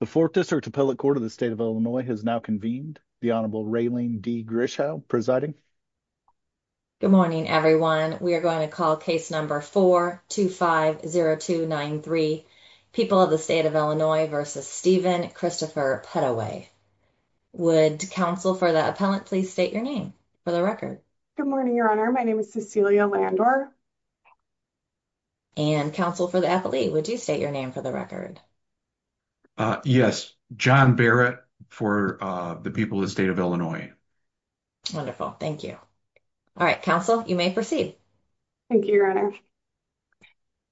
The Fourth District Appellate Court of the State of Illinois has now convened. The Honorable Raylene D. Grishow presiding. Good morning, everyone. We are going to call case number 4250293, People of the State of Illinois v. Stephen Christopher Pettaway. Would counsel for the appellant please state your name for the record? Good morning, Your Honor. My name is Cecilia Landor. And counsel for the athlete, would you state your name for the record? Yes, John Barrett for the People of the State of Illinois. Wonderful. Thank you. All right, counsel, you may proceed. Thank you, Your Honor.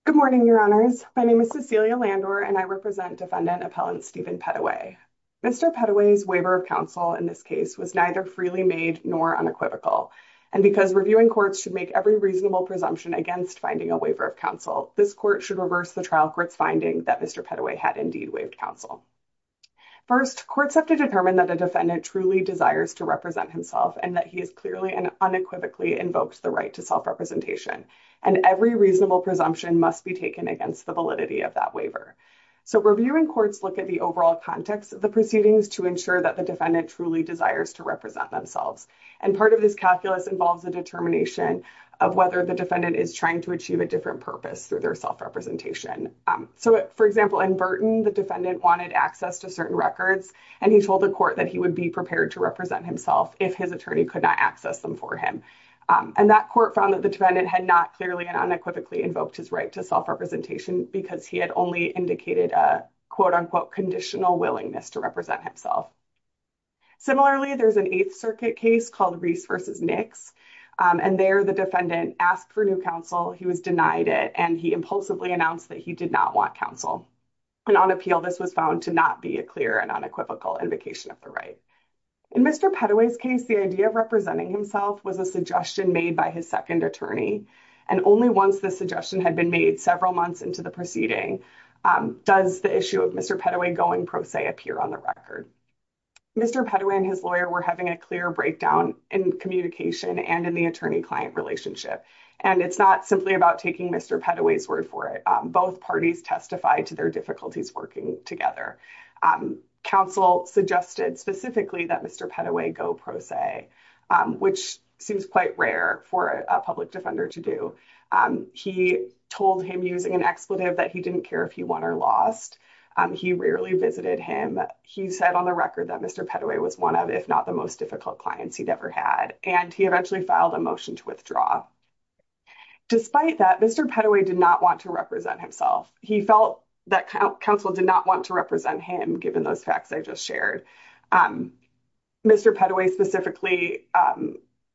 Good morning, Your Honors. My name is Cecilia Landor, and I represent Defendant Appellant Stephen Pettaway. Mr. Pettaway's waiver of counsel in this case was neither freely made nor unequivocal. And because reviewing courts should make every reasonable presumption against finding a waiver of counsel, this court should reverse the trial court's finding that Mr. Pettaway had indeed waived counsel. First, courts have to determine that a defendant truly desires to represent himself and that he has clearly and unequivocally invoked the right to self-representation. And every reasonable presumption must be taken against the validity of that waiver. So reviewing courts look at the overall context of the proceedings to ensure that the defendant truly desires to represent themselves. And part of this calculus involves a determination of whether the defendant is trying to achieve a different purpose through their self-representation. So, for example, in Burton, the defendant wanted access to certain records, and he told the court that he would be prepared to represent himself if his attorney could not access them for him. And that court found that the defendant had not clearly and unequivocally invoked his right to self-representation because he had only indicated a quote-unquote conditional willingness to represent himself. Similarly, there's an Eighth Circuit case called Reese v. Nix, and there the defendant asked for new counsel. He was denied it, and he impulsively announced that he did not want counsel. And on appeal, this was found to not be a clear and unequivocal invocation of the right. In Mr. Pettaway's case, the idea of representing himself was a suggestion made by his second attorney, and only once the suggestion had been made several months into the proceeding does the issue of Mr. Pettaway going pro se appear on the record. Mr. Pettaway and his lawyer were having a clear breakdown in communication and in the attorney-client relationship, and it's not simply about taking Mr. Pettaway's word for it. Both parties testified to their difficulties working together. Counsel suggested specifically that Mr. Pettaway go pro se, which seems quite for a public defender to do. He told him using an expletive that he didn't care if he won or lost. He rarely visited him. He said on the record that Mr. Pettaway was one of, if not the most difficult clients he'd ever had, and he eventually filed a motion to withdraw. Despite that, Mr. Pettaway did not want to represent himself. He felt that counsel did not want to represent him, given those facts I just shared. Mr. Pettaway specifically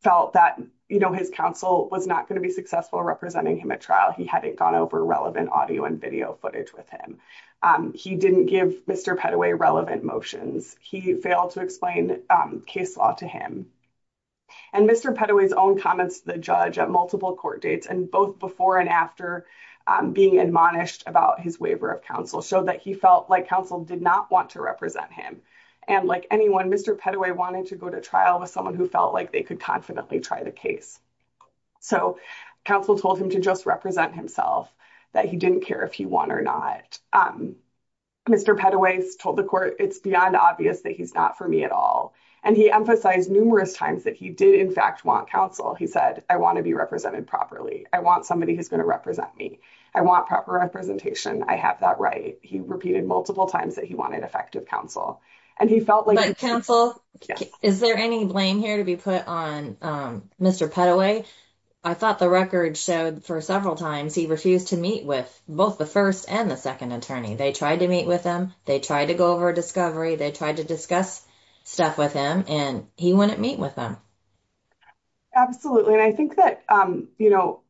felt that, you know, his counsel was not going to be successful representing him at trial. He hadn't gone over relevant audio and video footage with him. He didn't give Mr. Pettaway relevant motions. He failed to explain case law to him, and Mr. Pettaway's own comments to the judge at multiple court dates, and both before and after being admonished about his waiver of counsel, showed that he felt like counsel did not want to represent him. And like anyone, Mr. Pettaway wanted to go to trial with someone who felt like they could confidently try the case. So counsel told him to just represent himself, that he didn't care if he won or not. Mr. Pettaway told the court, it's beyond obvious that he's not for me at all, and he emphasized numerous times that he did in fact want counsel. He said, I want to be I want proper representation. I have that right. He repeated multiple times that he wanted effective counsel, and he felt like counsel. Is there any blame here to be put on Mr. Pettaway? I thought the record showed for several times he refused to meet with both the first and the second attorney. They tried to meet with him. They tried to go over a discovery. They tried to discuss stuff with him, and he wouldn't meet with them. Absolutely, and I think that, you know,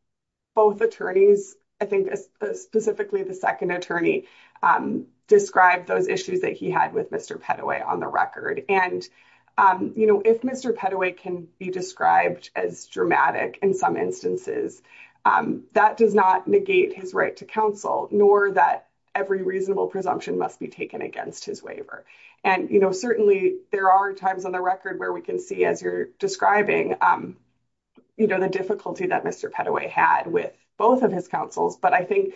both attorneys, I think specifically the second attorney, described those issues that he had with Mr. Pettaway on the record. And, you know, if Mr. Pettaway can be described as dramatic in some instances, that does not negate his right to counsel, nor that every reasonable presumption must be taken against his waiver. And, you know, certainly there are times on the record where we can see, as you're describing, you know, the difficulty that Mr. Pettaway had with both of his counsels. But I think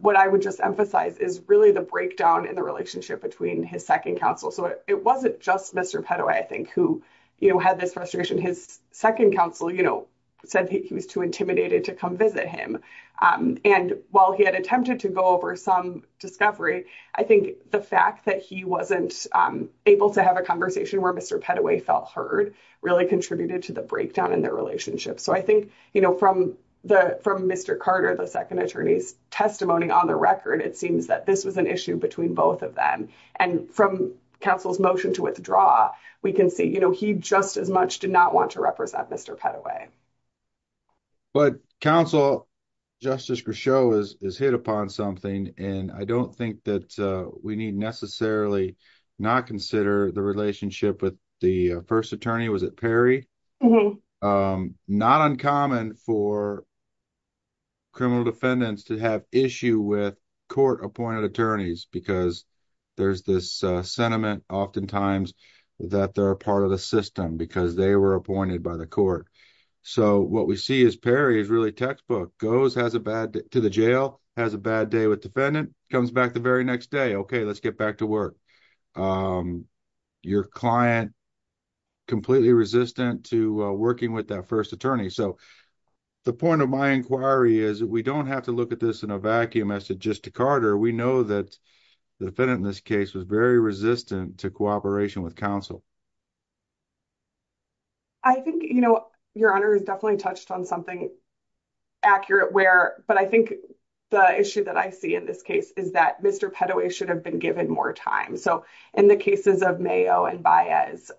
what I would just emphasize is really the breakdown in the relationship between his second counsel. So it wasn't just Mr. Pettaway, I think, who, you know, had this frustration. His second counsel, you know, said he was too intimidated to come visit him. And while he had attempted to go over some discovery, I think the fact that he wasn't able to have a heard really contributed to the breakdown in their relationship. So I think, you know, from Mr. Carter, the second attorney's testimony on the record, it seems that this was an issue between both of them. And from counsel's motion to withdraw, we can see, you know, he just as much did not want to represent Mr. Pettaway. But counsel, Justice Grisho is hit upon something, and I don't think that we need necessarily not consider the relationship with the first attorney. Was it Perry? Not uncommon for criminal defendants to have issue with court-appointed attorneys because there's this sentiment oftentimes that they're a part of the system because they were appointed by the court. So what we see is Perry is really textbook. Goes to the jail, has a bad day with defendant, comes back the very next day, okay, let's get back to work. Your client completely resistant to working with that first attorney. So the point of my inquiry is we don't have to look at this in a vacuum as to just to Carter. We know that the defendant in this case was very resistant to cooperation with counsel. I think, you know, Your Honor has definitely touched on something accurate where, but I think the issue that I see in this case is that Mr. Pettaway should have been given more time. So in the cases of Mayo and Baez,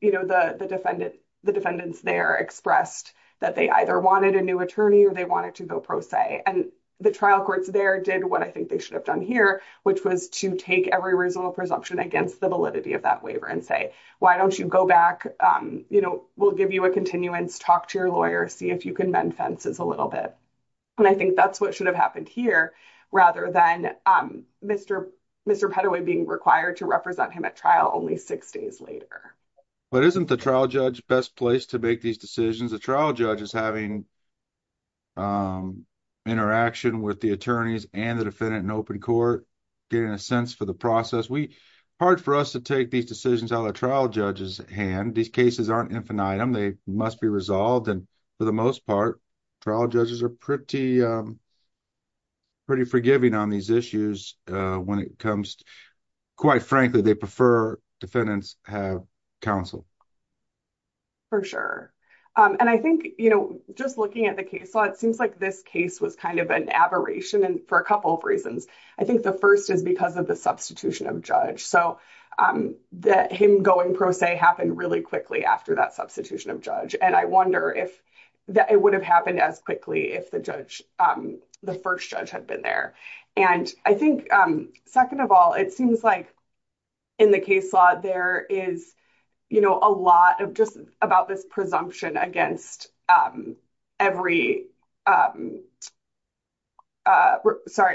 you know, the defendants there expressed that they either wanted a new attorney or they wanted to go pro se. And the trial courts there did what I think they should have done here, which was to take every reasonable presumption against the validity of that waiver and say, why don't you go back, you know, we'll give you a little bit. And I think that's what should have happened here rather than Mr. Pettaway being required to represent him at trial only six days later. But isn't the trial judge best place to make these decisions? The trial judge is having interaction with the attorneys and the defendant in open court getting a sense for the process. Hard for us to take these decisions out of the trial judge's hand. These cases aren't infinitum. They must be resolved. And for the most part, trial judges are pretty, pretty forgiving on these issues when it comes, quite frankly, they prefer defendants have counsel. For sure. And I think, you know, just looking at the case law, it seems like this case was kind of an aberration and for a couple of reasons. I think the first is because of the substitution of judge. So that him going pro se happened really quickly after that substitution of judge. And I wonder if that it would have happened as quickly if the judge, the first judge had been there. And I think, second of all, it seems like in the case law, there is, you know, a lot of just about this presumption against every sorry,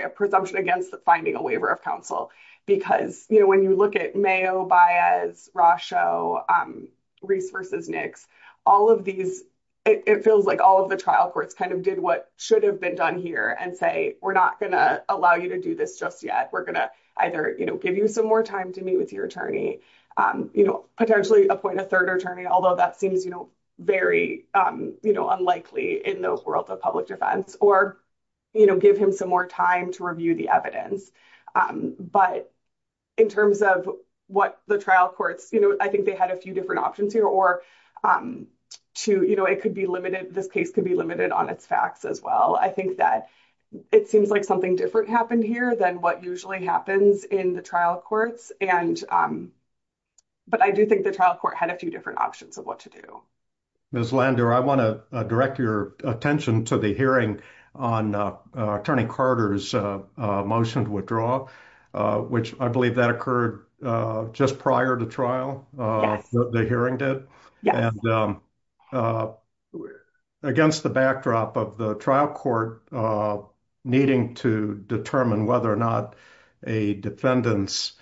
a presumption against the finding a waiver of counsel. Because, you know, you look at Mayo, Baez, Rosho, Reese versus Nix, all of these, it feels like all of the trial courts kind of did what should have been done here and say, we're not going to allow you to do this just yet. We're going to either, you know, give you some more time to meet with your attorney, you know, potentially appoint a third attorney, although that seems, you know, very, you know, unlikely in the world of public defense, or, you know, give him some more time to review the evidence. But in terms of what the trial courts, you know, I think they had a few different options here or two, you know, it could be limited, this case could be limited on its facts as well. I think that it seems like something different happened here than what usually happens in the trial courts. And but I do think the trial court had a few different options of what to do. Ms. Lander, I want to direct your attention to the hearing on Attorney Carter's motion to withdraw, which I believe that occurred just prior to trial, the hearing did. And against the backdrop of the trial court, needing to determine whether or not a defendant's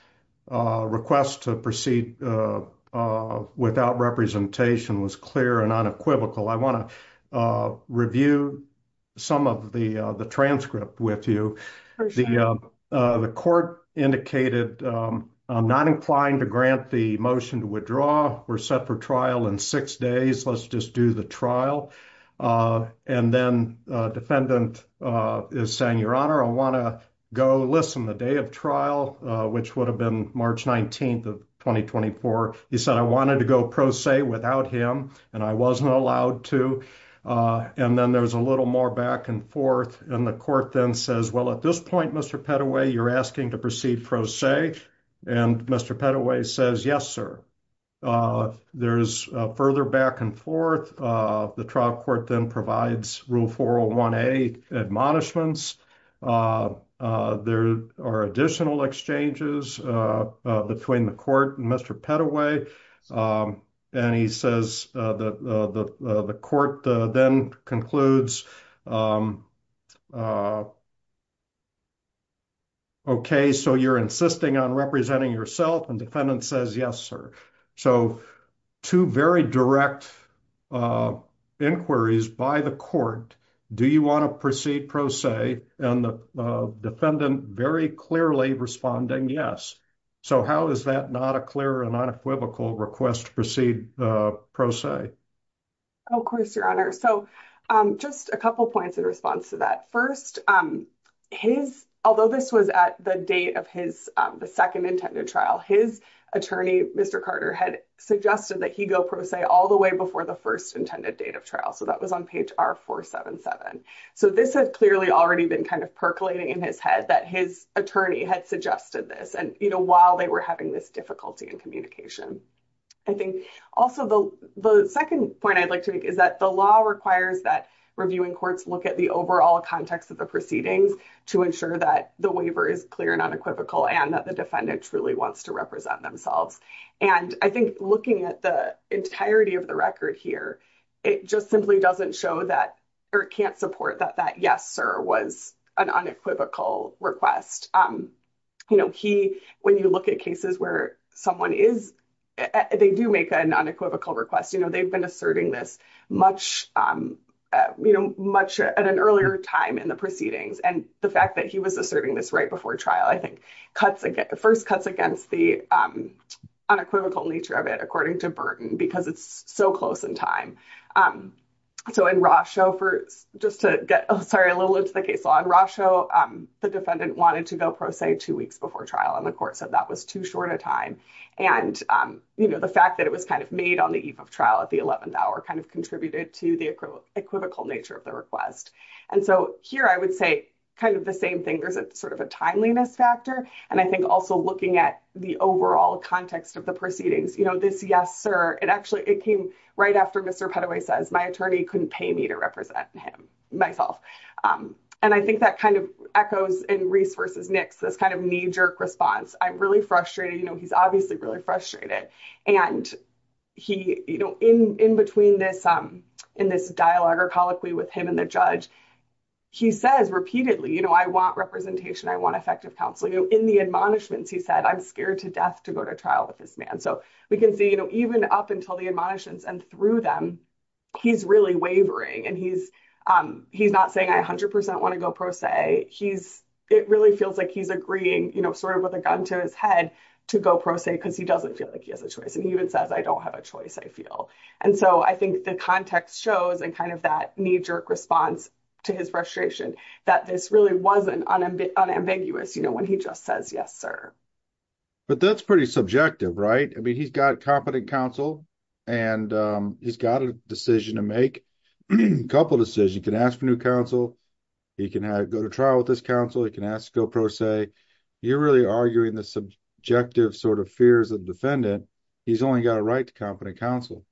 request to proceed without representation was clear and unequivocal, I want to review some of the the transcript with you. The court indicated, I'm not implying to grant the motion to withdraw, we're set for trial in six days, let's just do the trial. And then defendant is saying, Your Honor, I want to go listen, the day of trial, which would have been March 19 of 2024. He said, I wanted to go pro se without him, and I wasn't allowed to. And then there's a little more back and forth. And the court then says, well, at this point, Mr. Petaway, you're asking to proceed pro se. And Mr. Petaway says, Yes, sir. There's further back and forth. The trial court then provides Rule 401A admonishments. There are additional exchanges between the court and Mr. Petaway. And he says, the court then concludes, Okay, so you're insisting on representing yourself and defendant says, Yes, sir. So two very direct inquiries by the court, do you want to proceed pro se? And the defendant very clearly responding Yes. So how is that not a clear and unequivocal request to proceed pro se? Of course, Your Honor. So just a couple points in response to that. First, his, although this was at the date of his second intended trial, his attorney, Mr. Carter had suggested that he go pro se all the way before the first intended date of trial. So that was on page R-477. So this has clearly already been kind of percolating in his head that his attorney had suggested this and you know, while they were having this difficulty in communication. I think also the second point I'd like to make is that the law requires that reviewing courts look at overall context of the proceedings to ensure that the waiver is clear and unequivocal and that the defendant truly wants to represent themselves. And I think looking at the entirety of the record here, it just simply doesn't show that or can't support that that Yes, sir was an unequivocal request. You know, he, when you look at cases where someone is, they do make an unequivocal request, you know, they've been asserting this much, you know, much at an earlier time in the proceedings. And the fact that he was asserting this right before trial, I think, cuts, first cuts against the unequivocal nature of it, according to Burton, because it's so close in time. So in Rosho, just to get, sorry, a little into the case law, in Rosho, the defendant wanted to go pro se two weeks before trial. And the court said that was too short a time. And, you know, the fact that it was kind of made on the eve of trial at the 11th hour kind of contributed to the equivocal nature of the request. And so here, I would say, kind of the same thing, there's a sort of a timeliness factor. And I think also looking at the overall context of the proceedings, you know, this Yes, sir, it actually it came right after Mr. Padaway says my attorney couldn't pay me to represent him myself. And I think that kind of echoes in Reese versus Nix, this kind of knee response, I'm really frustrated, you know, he's obviously really frustrated. And he, you know, in in between this, in this dialogue or colloquy with him and the judge, he says repeatedly, you know, I want representation, I want effective counsel, you know, in the admonishments, he said, I'm scared to death to go to trial with this man. So we can see, you know, even up until the admonishments and through them, he's really wavering. And he's, he's not saying I 100% want to go pro se, he's, it really feels like he's agreeing, you know, sort of with a gun to his head to go pro se, because he doesn't feel like he has a choice. And he even says, I don't have a choice, I feel. And so I think the context shows and kind of that knee jerk response to his frustration, that this really wasn't unambiguous, you know, when he just says, Yes, sir. But that's pretty subjective, right? I mean, he's got competent counsel. And he's got a decision to couple decisions, you can ask for new counsel, he can go to trial with his counsel, he can ask to go pro se, you're really arguing the subjective sort of fears of defendant, he's only got a right to competent counsel.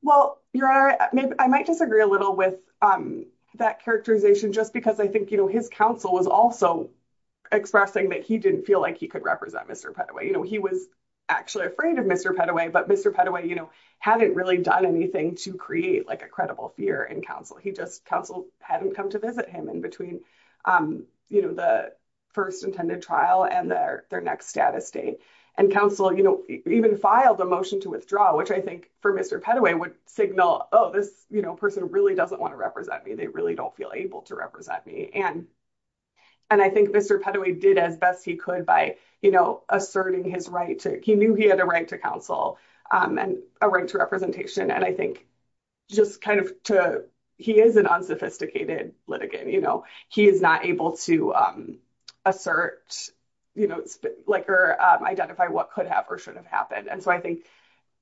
Well, your honor, I might disagree a little with that characterization, just because I think, you know, his counsel was also expressing that he didn't feel like he could represent Mr. Petaway, you know, he was actually afraid of Mr. Petaway, but Mr. Petaway, you know, hadn't really done anything to create like a credible fear in counsel, he just counsel hadn't come to visit him in between, you know, the first intended trial and their their next status date. And counsel, you know, even filed a motion to withdraw, which I think for Mr. Petaway would signal, oh, this, you know, person really doesn't want to represent me, they really don't feel able to represent me. And, and I think Mr. Petaway did as best he could, by, you know, asserting his right to he knew he had a right to counsel, and a right to representation. And I think, just kind of to, he is an unsophisticated litigant, you know, he is not able to assert, you know, like, or identify what could have or should have happened. And so I think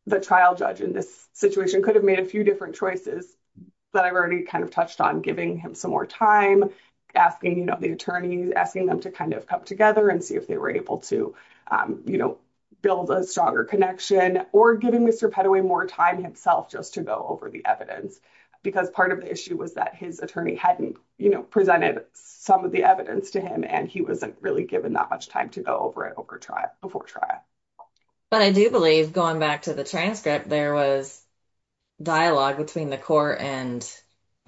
the trial judge in this situation could have made a few different choices, but I've already kind of touched on giving him some more time, asking, you know, the attorneys asking them to kind of come together and see if they were able to, you know, build a stronger connection, or giving Mr. Petaway more time himself just to go over the evidence. Because part of the issue was that his attorney hadn't, you know, presented some of the evidence to him, and he wasn't really given that much time to go over it over trial before trial. But I do believe going back to the transcript, there was dialogue between the court and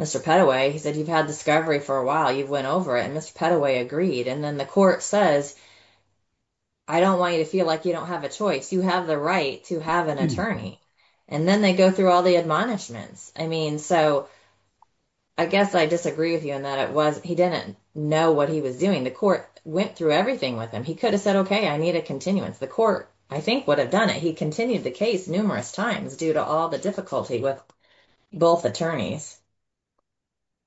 Mr. Petaway. He said, you've had discovery for a while, you've went over it, and Mr. Petaway agreed. And then the court says, I don't want you to feel like you don't have a choice, you have the right to have an attorney. And then they go through all the admonishments. I mean, so I guess I disagree with you in that it was he didn't know what he was doing. The court went through everything with him, he could have said, Okay, I need a continuance. The court, I think would have done it. He continued the case numerous times due to all the difficulty with both attorneys.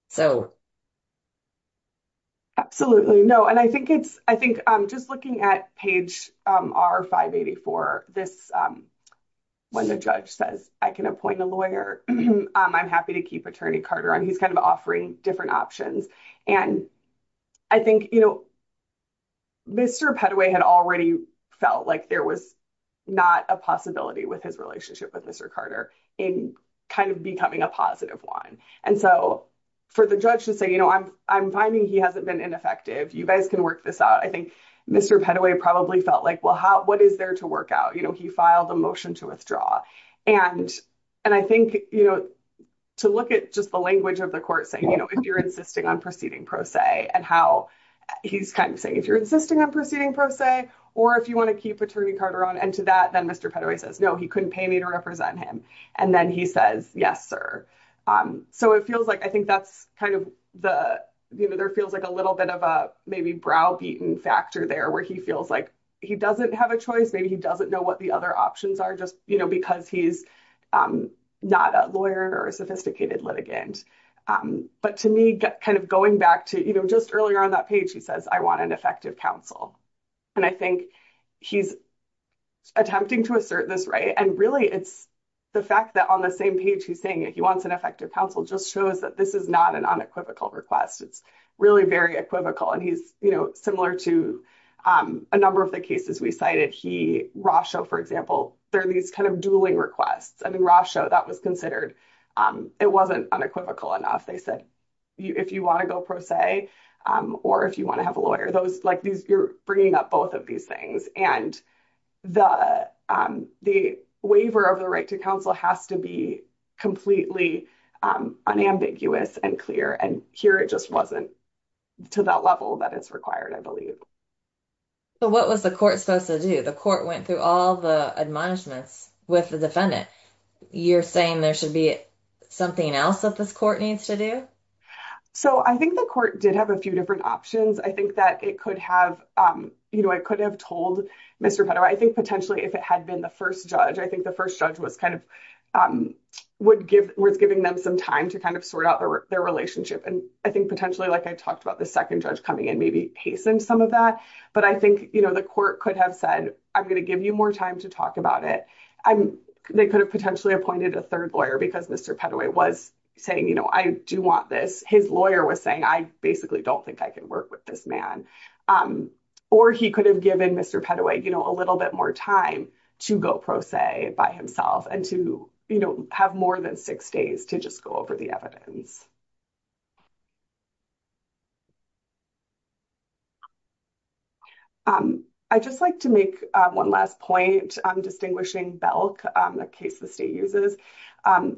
So absolutely, no. And I think it's, I think, just looking at page R584, this, when the judge says, I can appoint a lawyer, I'm happy to keep Attorney Carter, and he's kind of offering different options. And I think, you know, Mr. Petaway had already felt like there was not a possibility with his relationship with Mr. Carter in kind of becoming a positive one. And so for the judge to say, you know, I'm, I'm finding he hasn't been ineffective, you guys can work this out. I think Mr. Petaway probably felt like, well, how, what is there to work out? You know, he filed a motion to withdraw. And, and I think, you know, to look at just the language of the court saying, you know, if you're insisting on proceeding pro se, and how he's kind of saying, if you're insisting on proceeding pro se, or if you want to keep Attorney Carter on, and to that, then Mr. Petaway says, No, he couldn't pay me to represent him. And then he says, Yes, sir. So it feels like I think that's kind of the, you know, there feels like a little bit of a maybe browbeaten factor there, where he feels like he doesn't have a choice, maybe he doesn't know what the other options are, just, you know, because he's not a lawyer or a sophisticated litigant. But to me, kind of going back to, you know, just earlier on that page, he says, I want an effective counsel. And I think he's attempting to assert this right. And really, it's the fact that on the same page, he's saying that he wants an effective counsel just shows that this is not an unequivocal request. It's really very equivocal. And he's, you know, similar to a number of the cases we cited he Rasha, for example, there are these kind of dueling requests, I mean, Rasha, that was considered, it wasn't unequivocal enough, they said, if you want to go pro se, or if you want to have a lawyer, those like these, you're bringing up both of these things. And the, the waiver of the right to counsel has to be completely unambiguous and clear. And here, it just wasn't to that level that is required, I believe. So what was the court supposed to do? The court went through all the admonishments with the defendant, you're saying there should be something else that this court needs to do. So I think the court did have a few different options. I think that it could have, you know, I could have told Mr. Pettaway, I think potentially, if it had been the first judge, I think the first judge was kind of would give was giving them some time to kind of sort out their relationship. And I think potentially, like I talked about the second judge coming in, maybe hastened some of that. But I think, you know, the court could have said, I'm going to give you more time to talk about it. I'm, they could have potentially appointed a third lawyer, because Mr. Pettaway was saying, you know, I do want this, his lawyer was saying, I basically don't think I can work with this man. Or he could have given Mr. Pettaway, you know, a little bit more time to go pro se by himself, and to, you know, have more than six days to just go over the evidence. I just like to make one last point on distinguishing Belk, the case the state uses.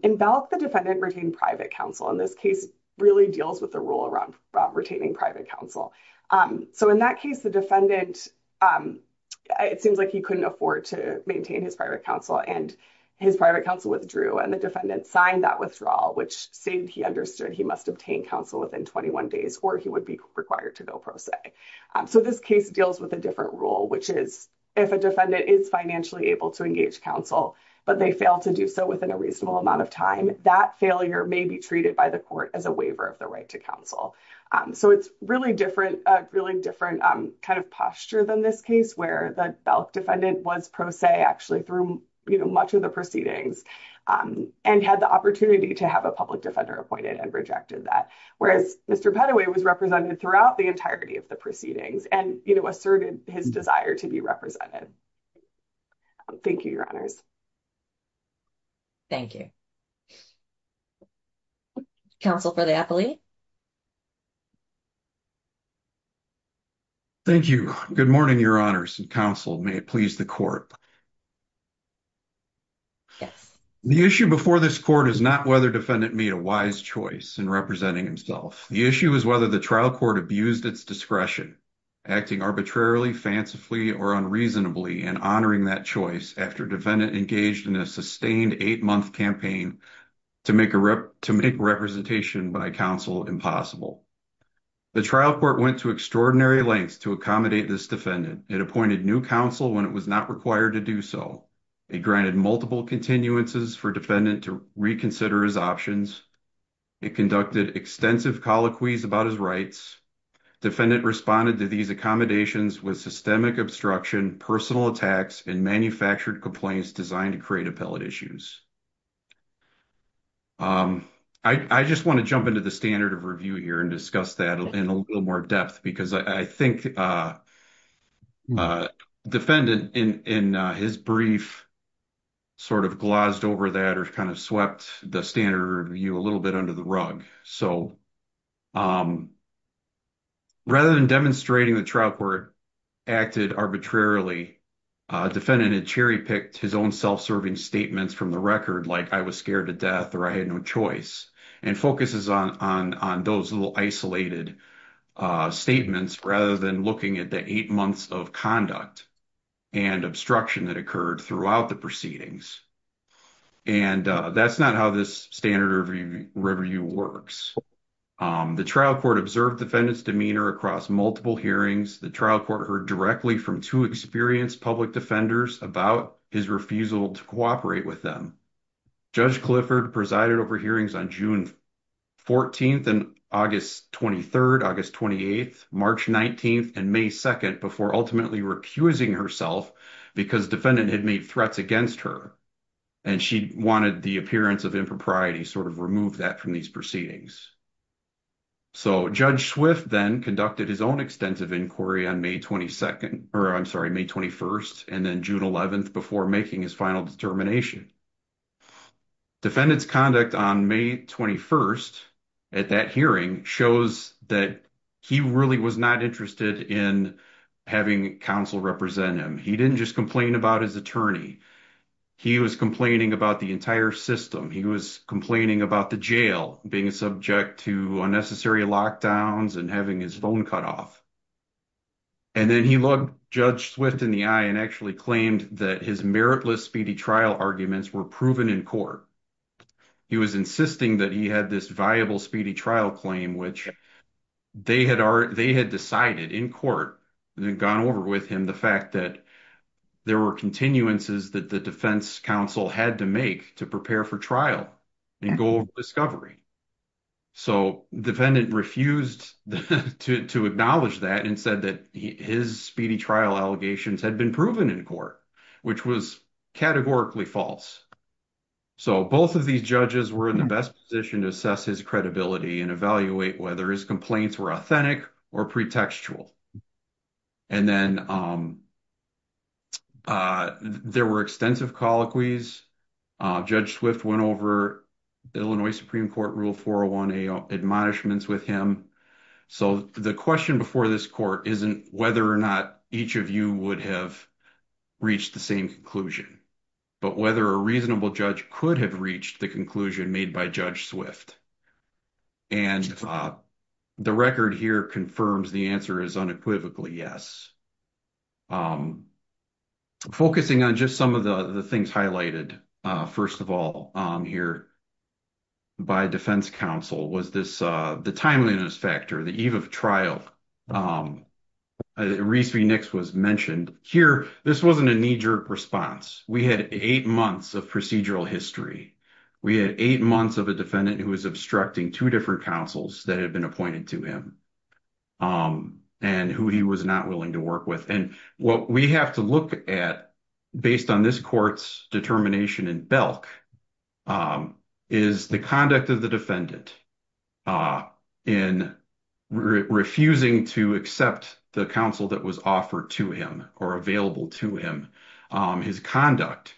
In Belk, the defendant retained private counsel in this case, really deals with the rule around retaining private counsel. So in that case, the defendant, it seems like he couldn't afford to maintain his private counsel and his private counsel withdrew and the defendant signed that withdrawal, which stated he understood he must obtain counsel within 21 days, or he would be required to go pro se. So this case deals with a different rule, which is, if a defendant is financially able to engage counsel, but they fail to do so within a reasonable amount of time, that failure may be treated by the court as a waiver of the right to counsel. So it's really different, a really different kind of posture than this case, where the Belk defendant was pro se actually through, you know, much of the proceedings, and had the opportunity to have a public defender appointed and rejected that, whereas Mr. Pettaway was represented throughout the entirety of the proceedings and, you know, asserted his desire to be represented. Thank you, your honors. Thank you. Counsel for the appellee. Thank you. Good morning, your honors and counsel. May it please the court. Yes. The issue before this court is not whether defendant made a wise choice in representing himself. The issue is whether the trial court abused its discretion, acting arbitrarily, fancifully, or unreasonably, and honoring that choice after defendant engaged in a sustained eight-month campaign to make representation by counsel impossible. The trial court went to extraordinary lengths to accommodate this defendant. It appointed new counsel when it was not required to do so. It granted multiple continuances for defendant to reconsider his options. It conducted extensive colloquies about his rights. Defendant responded to these accommodations with systemic obstruction, personal attacks, and manufactured complaints designed to create appellate issues. I just want to jump into the standard of review here and discuss that in a little more depth because I think defendant in his brief sort of glossed over that or kind of swept the standard review a little bit under the rug. So, rather than demonstrating the trial court acted arbitrarily, defendant had cherry-picked his own self-serving statements from the record like I was scared to death or I had no choice and focuses on those little isolated statements rather than looking at the eight months of conduct and obstruction that occurred throughout the proceedings. And that's not how this standard review works. The trial court observed defendant's demeanor across multiple hearings. The trial court heard directly from two experienced public defenders about his refusal to cooperate with them. Judge Clifford presided over hearings on June 14th and August 23rd, August 28th, March 19th, May 2nd before ultimately recusing herself because defendant had made threats against her and she wanted the appearance of impropriety sort of remove that from these proceedings. So, Judge Swift then conducted his own extensive inquiry on May 22nd, or I'm sorry, May 21st and then June 11th before making his final determination. Defendant's conduct on May 21st at that hearing shows that he really was not interested in having counsel represent him. He didn't just complain about his attorney. He was complaining about the entire system. He was complaining about the jail being subject to unnecessary lockdowns and having his phone cut off. And then he looked Judge Swift in the eye and actually were proven in court. He was insisting that he had this viable speedy trial claim, which they had decided in court and then gone over with him the fact that there were continuances that the defense counsel had to make to prepare for trial and go over discovery. So, defendant refused to acknowledge that and said that his speedy trial allegations had been in court, which was categorically false. So, both of these judges were in the best position to assess his credibility and evaluate whether his complaints were authentic or pretextual. And then there were extensive colloquies. Judge Swift went over Illinois Supreme Court Rule 401A admonishments with him. So, the question before this court isn't whether or not each of you would have reached the same conclusion, but whether a reasonable judge could have reached the conclusion made by Judge Swift. And the record here confirms the answer is unequivocally yes. Focusing on just some of the things highlighted, first of all, here by defense counsel was the timeliness factor, the eve of trial. Reese v. Nix was mentioned. Here, this wasn't a knee-jerk response. We had eight months of procedural history. We had eight months of a defendant who was obstructing two different counsels that had been appointed to him and who he was not willing to work with. And what we have to look at based on this court's determination in Belk is the conduct of the defendant in refusing to accept the counsel that was offered to him or available to him. His conduct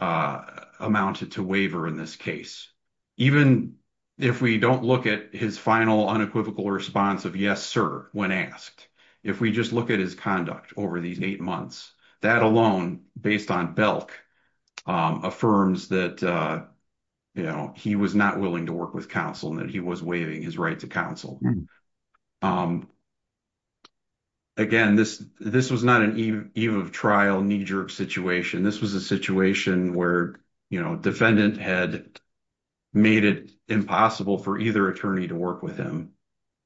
amounted to waiver in this case. Even if we don't look at his final unequivocal response of yes, sir, when asked, if we just look at his conduct over these eight months, that alone, based on Belk, affirms that he was not willing to work with counsel and that he was waiving his right to counsel. Again, this was not an eve of trial, knee-jerk situation. This was a situation where defendant had made it impossible for either attorney to work with him.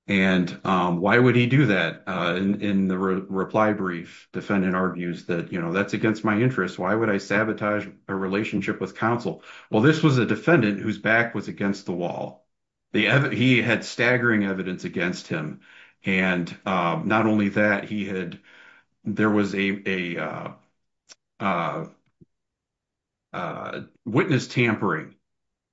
And why would he do that? In the reply brief, defendant argues that, you know, that's against my interest. Why would I sabotage a relationship with counsel? Well, this was a defendant whose back was against the wall. He had staggering evidence against him. And not only that, there was a witness tampering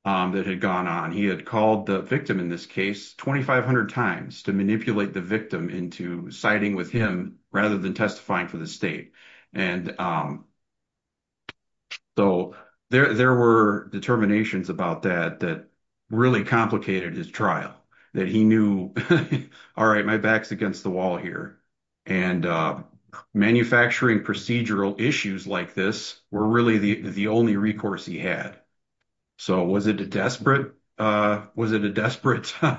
that had gone on. He had called the victim in this case 2,500 times to manipulate the victim into siding with him rather than testifying for the state. And so there were determinations about that that really complicated his trial, that he knew, all right, my back's against the wall here. And manufacturing procedural issues like this were really the only recourse he had. So was it a desperate set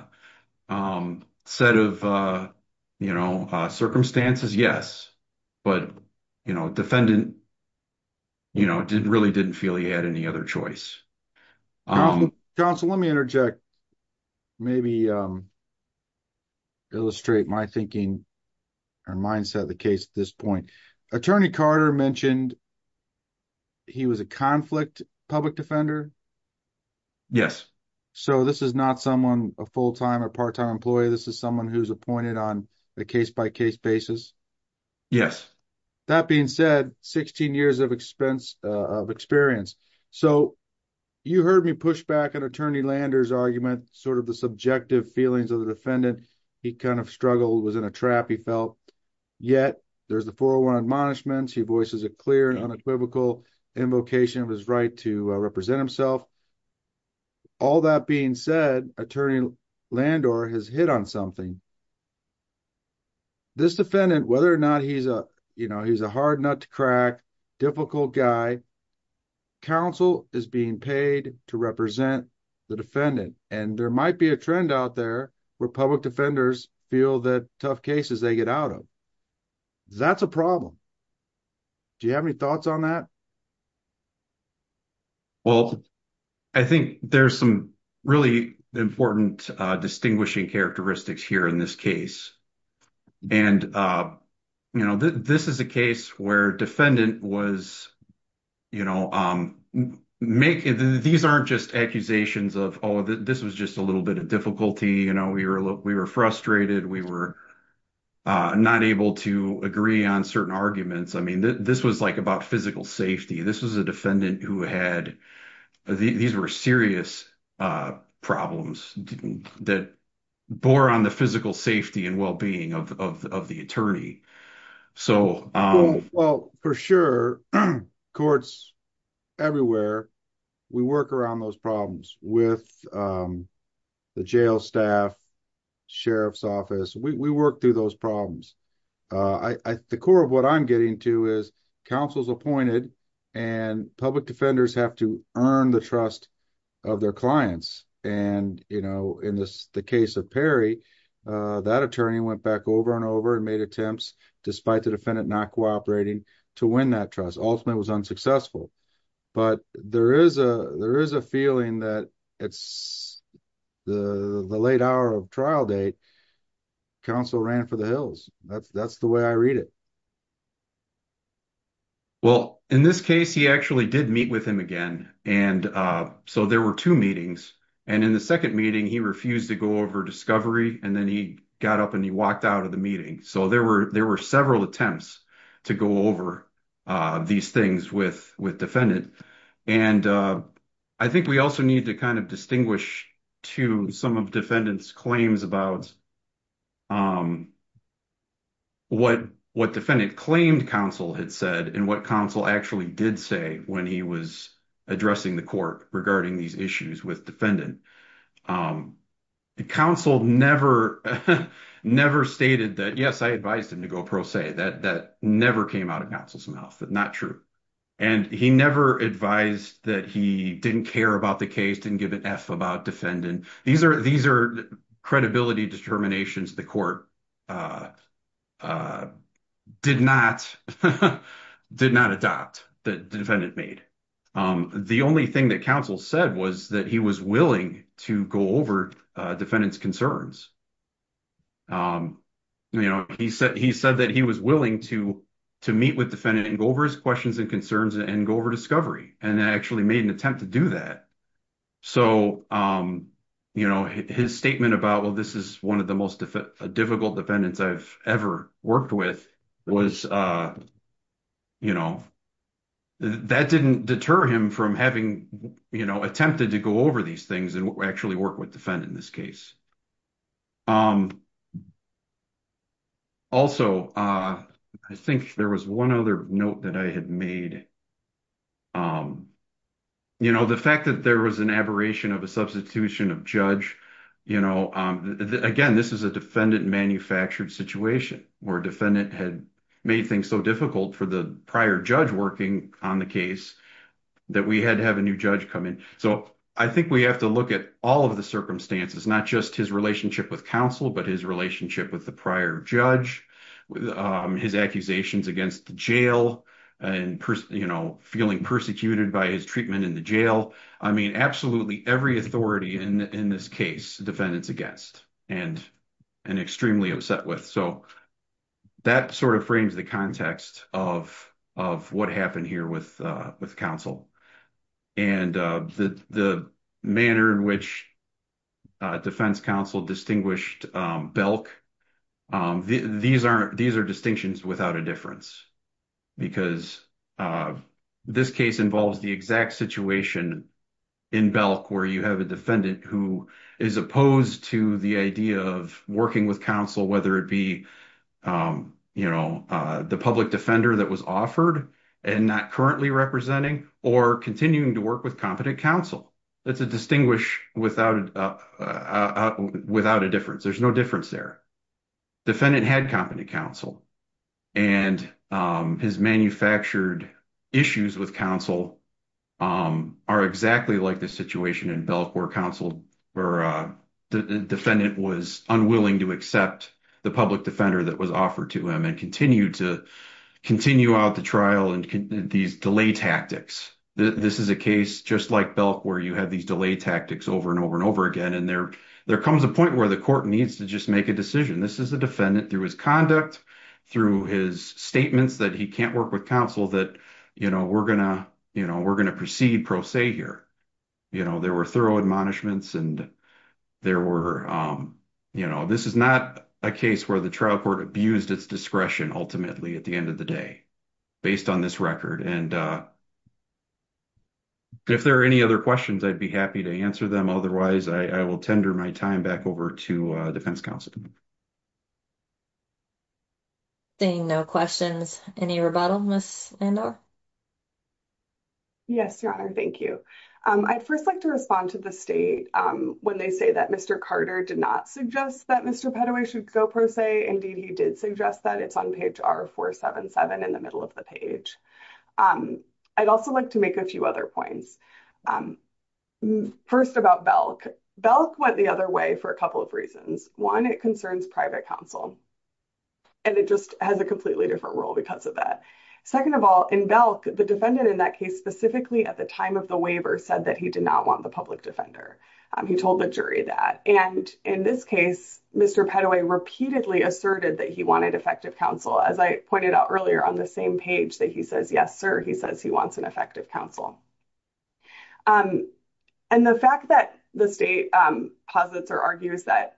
of, you know, circumstances? Yes. But, you know, defendant, you know, really didn't feel he had any other choice. Counsel, let me interject, maybe illustrate my thinking or mindset of the case at this point. Attorney Carter mentioned he was a conflict public defender. Yes. So this is not someone a full-time or part-time employee. This is someone who's appointed on a case-by-case basis. Yes. That being said, 16 years of experience. So you heard me push back on Attorney Landor's argument, sort of the subjective feelings of the defendant. He kind of struggled, was in a trap, he felt. Yet there's the 401 admonishments. He voices a clear and unequivocal invocation of his right to represent himself. All that being said, Attorney Landor has hit on something. This defendant, whether or not he's a, you know, he's a hard nut to crack, difficult guy, counsel is being paid to represent the defendant. And there might be a trend out there where public defenders feel that tough cases they get out of. That's a problem. Do you have any thoughts on that? Well, I think there's some really important distinguishing characteristics here in this case. And, you know, this is a case where defendant was, you know, making these aren't just accusations of, oh, this was just a little bit of difficulty. You know, we were frustrated. We were not able to agree on certain arguments. I mean, this was like about physical safety. This was a defendant who had, these were serious problems that bore on the physical safety and well-being of the attorney. So... Well, for sure, courts everywhere, we work around those problems with the jail staff, sheriff's office. We work through those problems. I, the core of what I'm getting to is counsel is appointed and public defenders have to earn the trust of their clients. And, you know, in this case of Perry, that attorney went back over and over and made attempts, despite the defendant not cooperating, to win that trust. Ultimately it was unsuccessful. But there is a feeling that it's the late hour of trial date, counsel ran for the hills. That's the way I read it. Well, in this case, he actually did meet with him again. And so there were two meetings. And in the second meeting, he refused to go over discovery. And then he got up and he walked out of the meeting. So there were several attempts to go over these things with defendant. And I think we also need to kind of distinguish to some of defendants claims about what defendant claimed counsel had said and what counsel actually did say when he was addressing the court regarding these issues with defendant. The counsel never stated that, yes, I advised him to go pro se, that never came out of counsel's mouth, but not true. And he never advised that he didn't care about the case, didn't give an F about defendant. These are credibility determinations the court did not adopt, the defendant made. The only thing that counsel said was that he was willing to go over defendant's concerns. You know, he said that he was willing to meet with defendant and go over his questions and concerns and go over discovery. And I actually made an attempt to do that. So, you know, his statement about, well, this is one of the most difficult defendants I've ever worked with was, you know, that didn't deter him from having, you know, attempted to go over these things and actually work with defendant in this case. Also, I think there was one other note that I had made. You know, the fact that there was an aberration of a substitution of judge, you know, again, this is a defendant manufactured situation where defendant had made things so difficult for the prior judge working on the case that we had to have a new judge come in. So, I think we have to look at all of the circumstances, not just his relationship with counsel, but his relationship with the prior judge, his accusations against the jail and, you know, feeling persecuted by his treatment in the jail. I mean, absolutely every authority in this case, defendant's against and extremely upset with. So, that sort of frames the context of what happened here with counsel and the manner in which defense counsel distinguished Belk. These are distinctions without a difference because this case involves the exact situation in Belk where you have a defendant who is opposed to the idea of working with counsel, whether it be, you know, the public defender that was offered and not currently representing or continuing to work with competent counsel. That's a distinguish without a difference. There's no difference there. Defendant had competent counsel and his manufactured issues with counsel are exactly like the situation in Belk where counsel or defendant was unwilling to accept the public defender that was offered to him and continued to continue out the trial and these delay tactics. This is a case just like Belk where you have these delay tactics over and over and over again. And there comes a point where the court needs to just make a decision. This is the defendant through his conduct, through his statements that he can't work with counsel that, you know, we're going to proceed pro se here. You know, there were thorough admonishments and there were, you know, this is not a case where the trial court abused its discretion ultimately at the end of the day based on this record. And if there are any other questions, I'd be happy to answer them. Otherwise, I will tender my time back over to defense counsel. Seeing no questions, any rebuttal, Ms. Andor? Yes, your honor. Thank you. I'd first like to respond to the state when they say that Mr. Carter did not suggest that Mr. Pettoway should go pro se. Indeed, he did suggest that it's on page R477 in the middle of the page. I'd also like to make a few other points. First about Belk. Belk went the other way for a couple of reasons. One, it concerns private counsel and it just has a the defendant in that case specifically at the time of the waiver said that he did not want the public defender. He told the jury that. And in this case, Mr. Pettoway repeatedly asserted that he wanted effective counsel. As I pointed out earlier on the same page that he says, yes, sir, he says he wants an effective counsel. And the fact that the state posits or argues that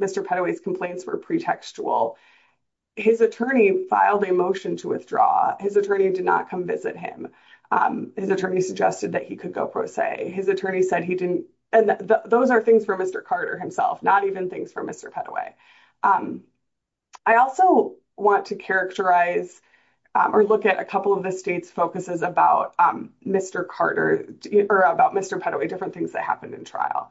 Mr. Pettoway's complaints were pretextual, his attorney filed a motion to withdraw. His attorney did not come visit him. His attorney suggested that he could go pro se. His attorney said he didn't. And those are things for Mr. Carter himself, not even things for Mr. Pettoway. I also want to characterize or look at a couple of the state's focuses about Mr. Carter or about Mr. Pettoway, different things that happened in trial.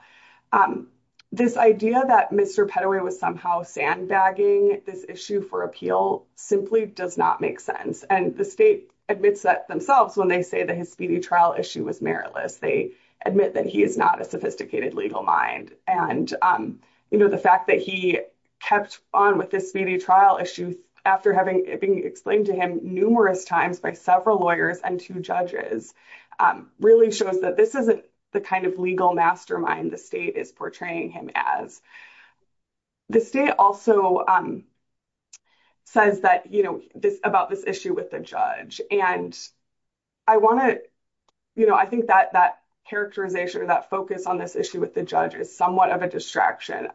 This idea that Mr. Pettoway was somehow sandbagging this issue for appeal simply does not make sense. And the state admits that themselves when they say that his speedy trial issue was meritless. They admit that he is not a sophisticated legal mind. And, you know, the fact that he kept on with this speedy trial issue after having being explained to him numerous times by several lawyers and two judges really shows that this isn't the kind of legal mastermind the state is portraying him as. The state also says that, you know, about this issue with the judge. And I want to, you know, I think that that characterization or that focus on this issue with the judge is somewhat of a distraction.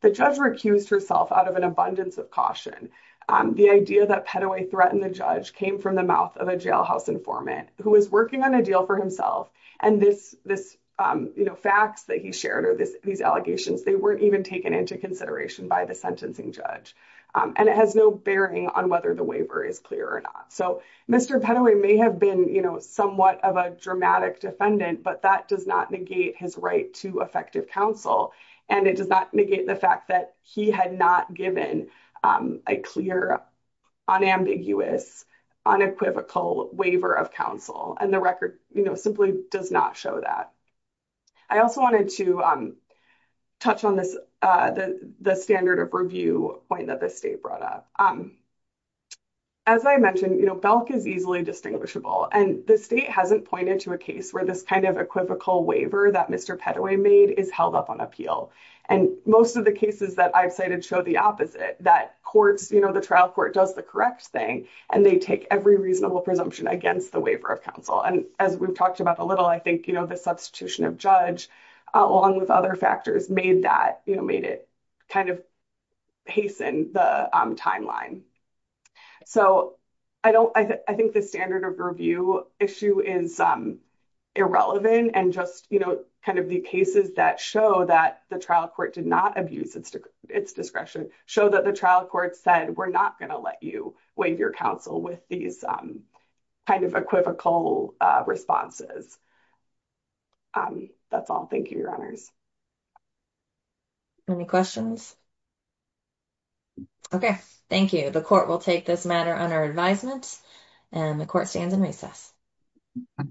The judge recused herself out of an abundance of caution. The idea that Pettoway threatened the judge came from the mouth of a jailhouse informant who was working on a deal for himself. And this, you know, facts that he shared or these allegations, they weren't even taken into consideration by the sentencing judge. And it has no bearing on whether the waiver is clear or not. So Mr. Pettoway may have been, you know, somewhat of a dramatic defendant, but that does not negate his right to effective counsel. And it does not negate the fact that he had not given a clear, unambiguous, unequivocal waiver of counsel. And the record, you know, simply does not show that. I also wanted to touch on this, the standard of review point that the state brought up. As I mentioned, you know, Belk is easily distinguishable. And the state hasn't pointed to a case where this kind of equivocal waiver that Mr. Pettoway made is held up on appeal. And most of the cases that I've cited show the opposite, that courts, you know, the trial court does the correct thing, and they take every reasonable presumption against the waiver of counsel. And as we've talked about a little, I think, you know, the substitution of judge, along with other factors made that, you know, made it kind of hasten the timeline. So I don't, I think the standard of review issue is irrelevant. And just, you know, kind of the show that the trial court did not abuse its discretion, show that the trial court said, we're not going to let you waive your counsel with these kind of equivocal responses. That's all. Thank you, Your Honors. Any questions? Okay. Thank you. The court will take this matter under advisement, and the court stands in recess.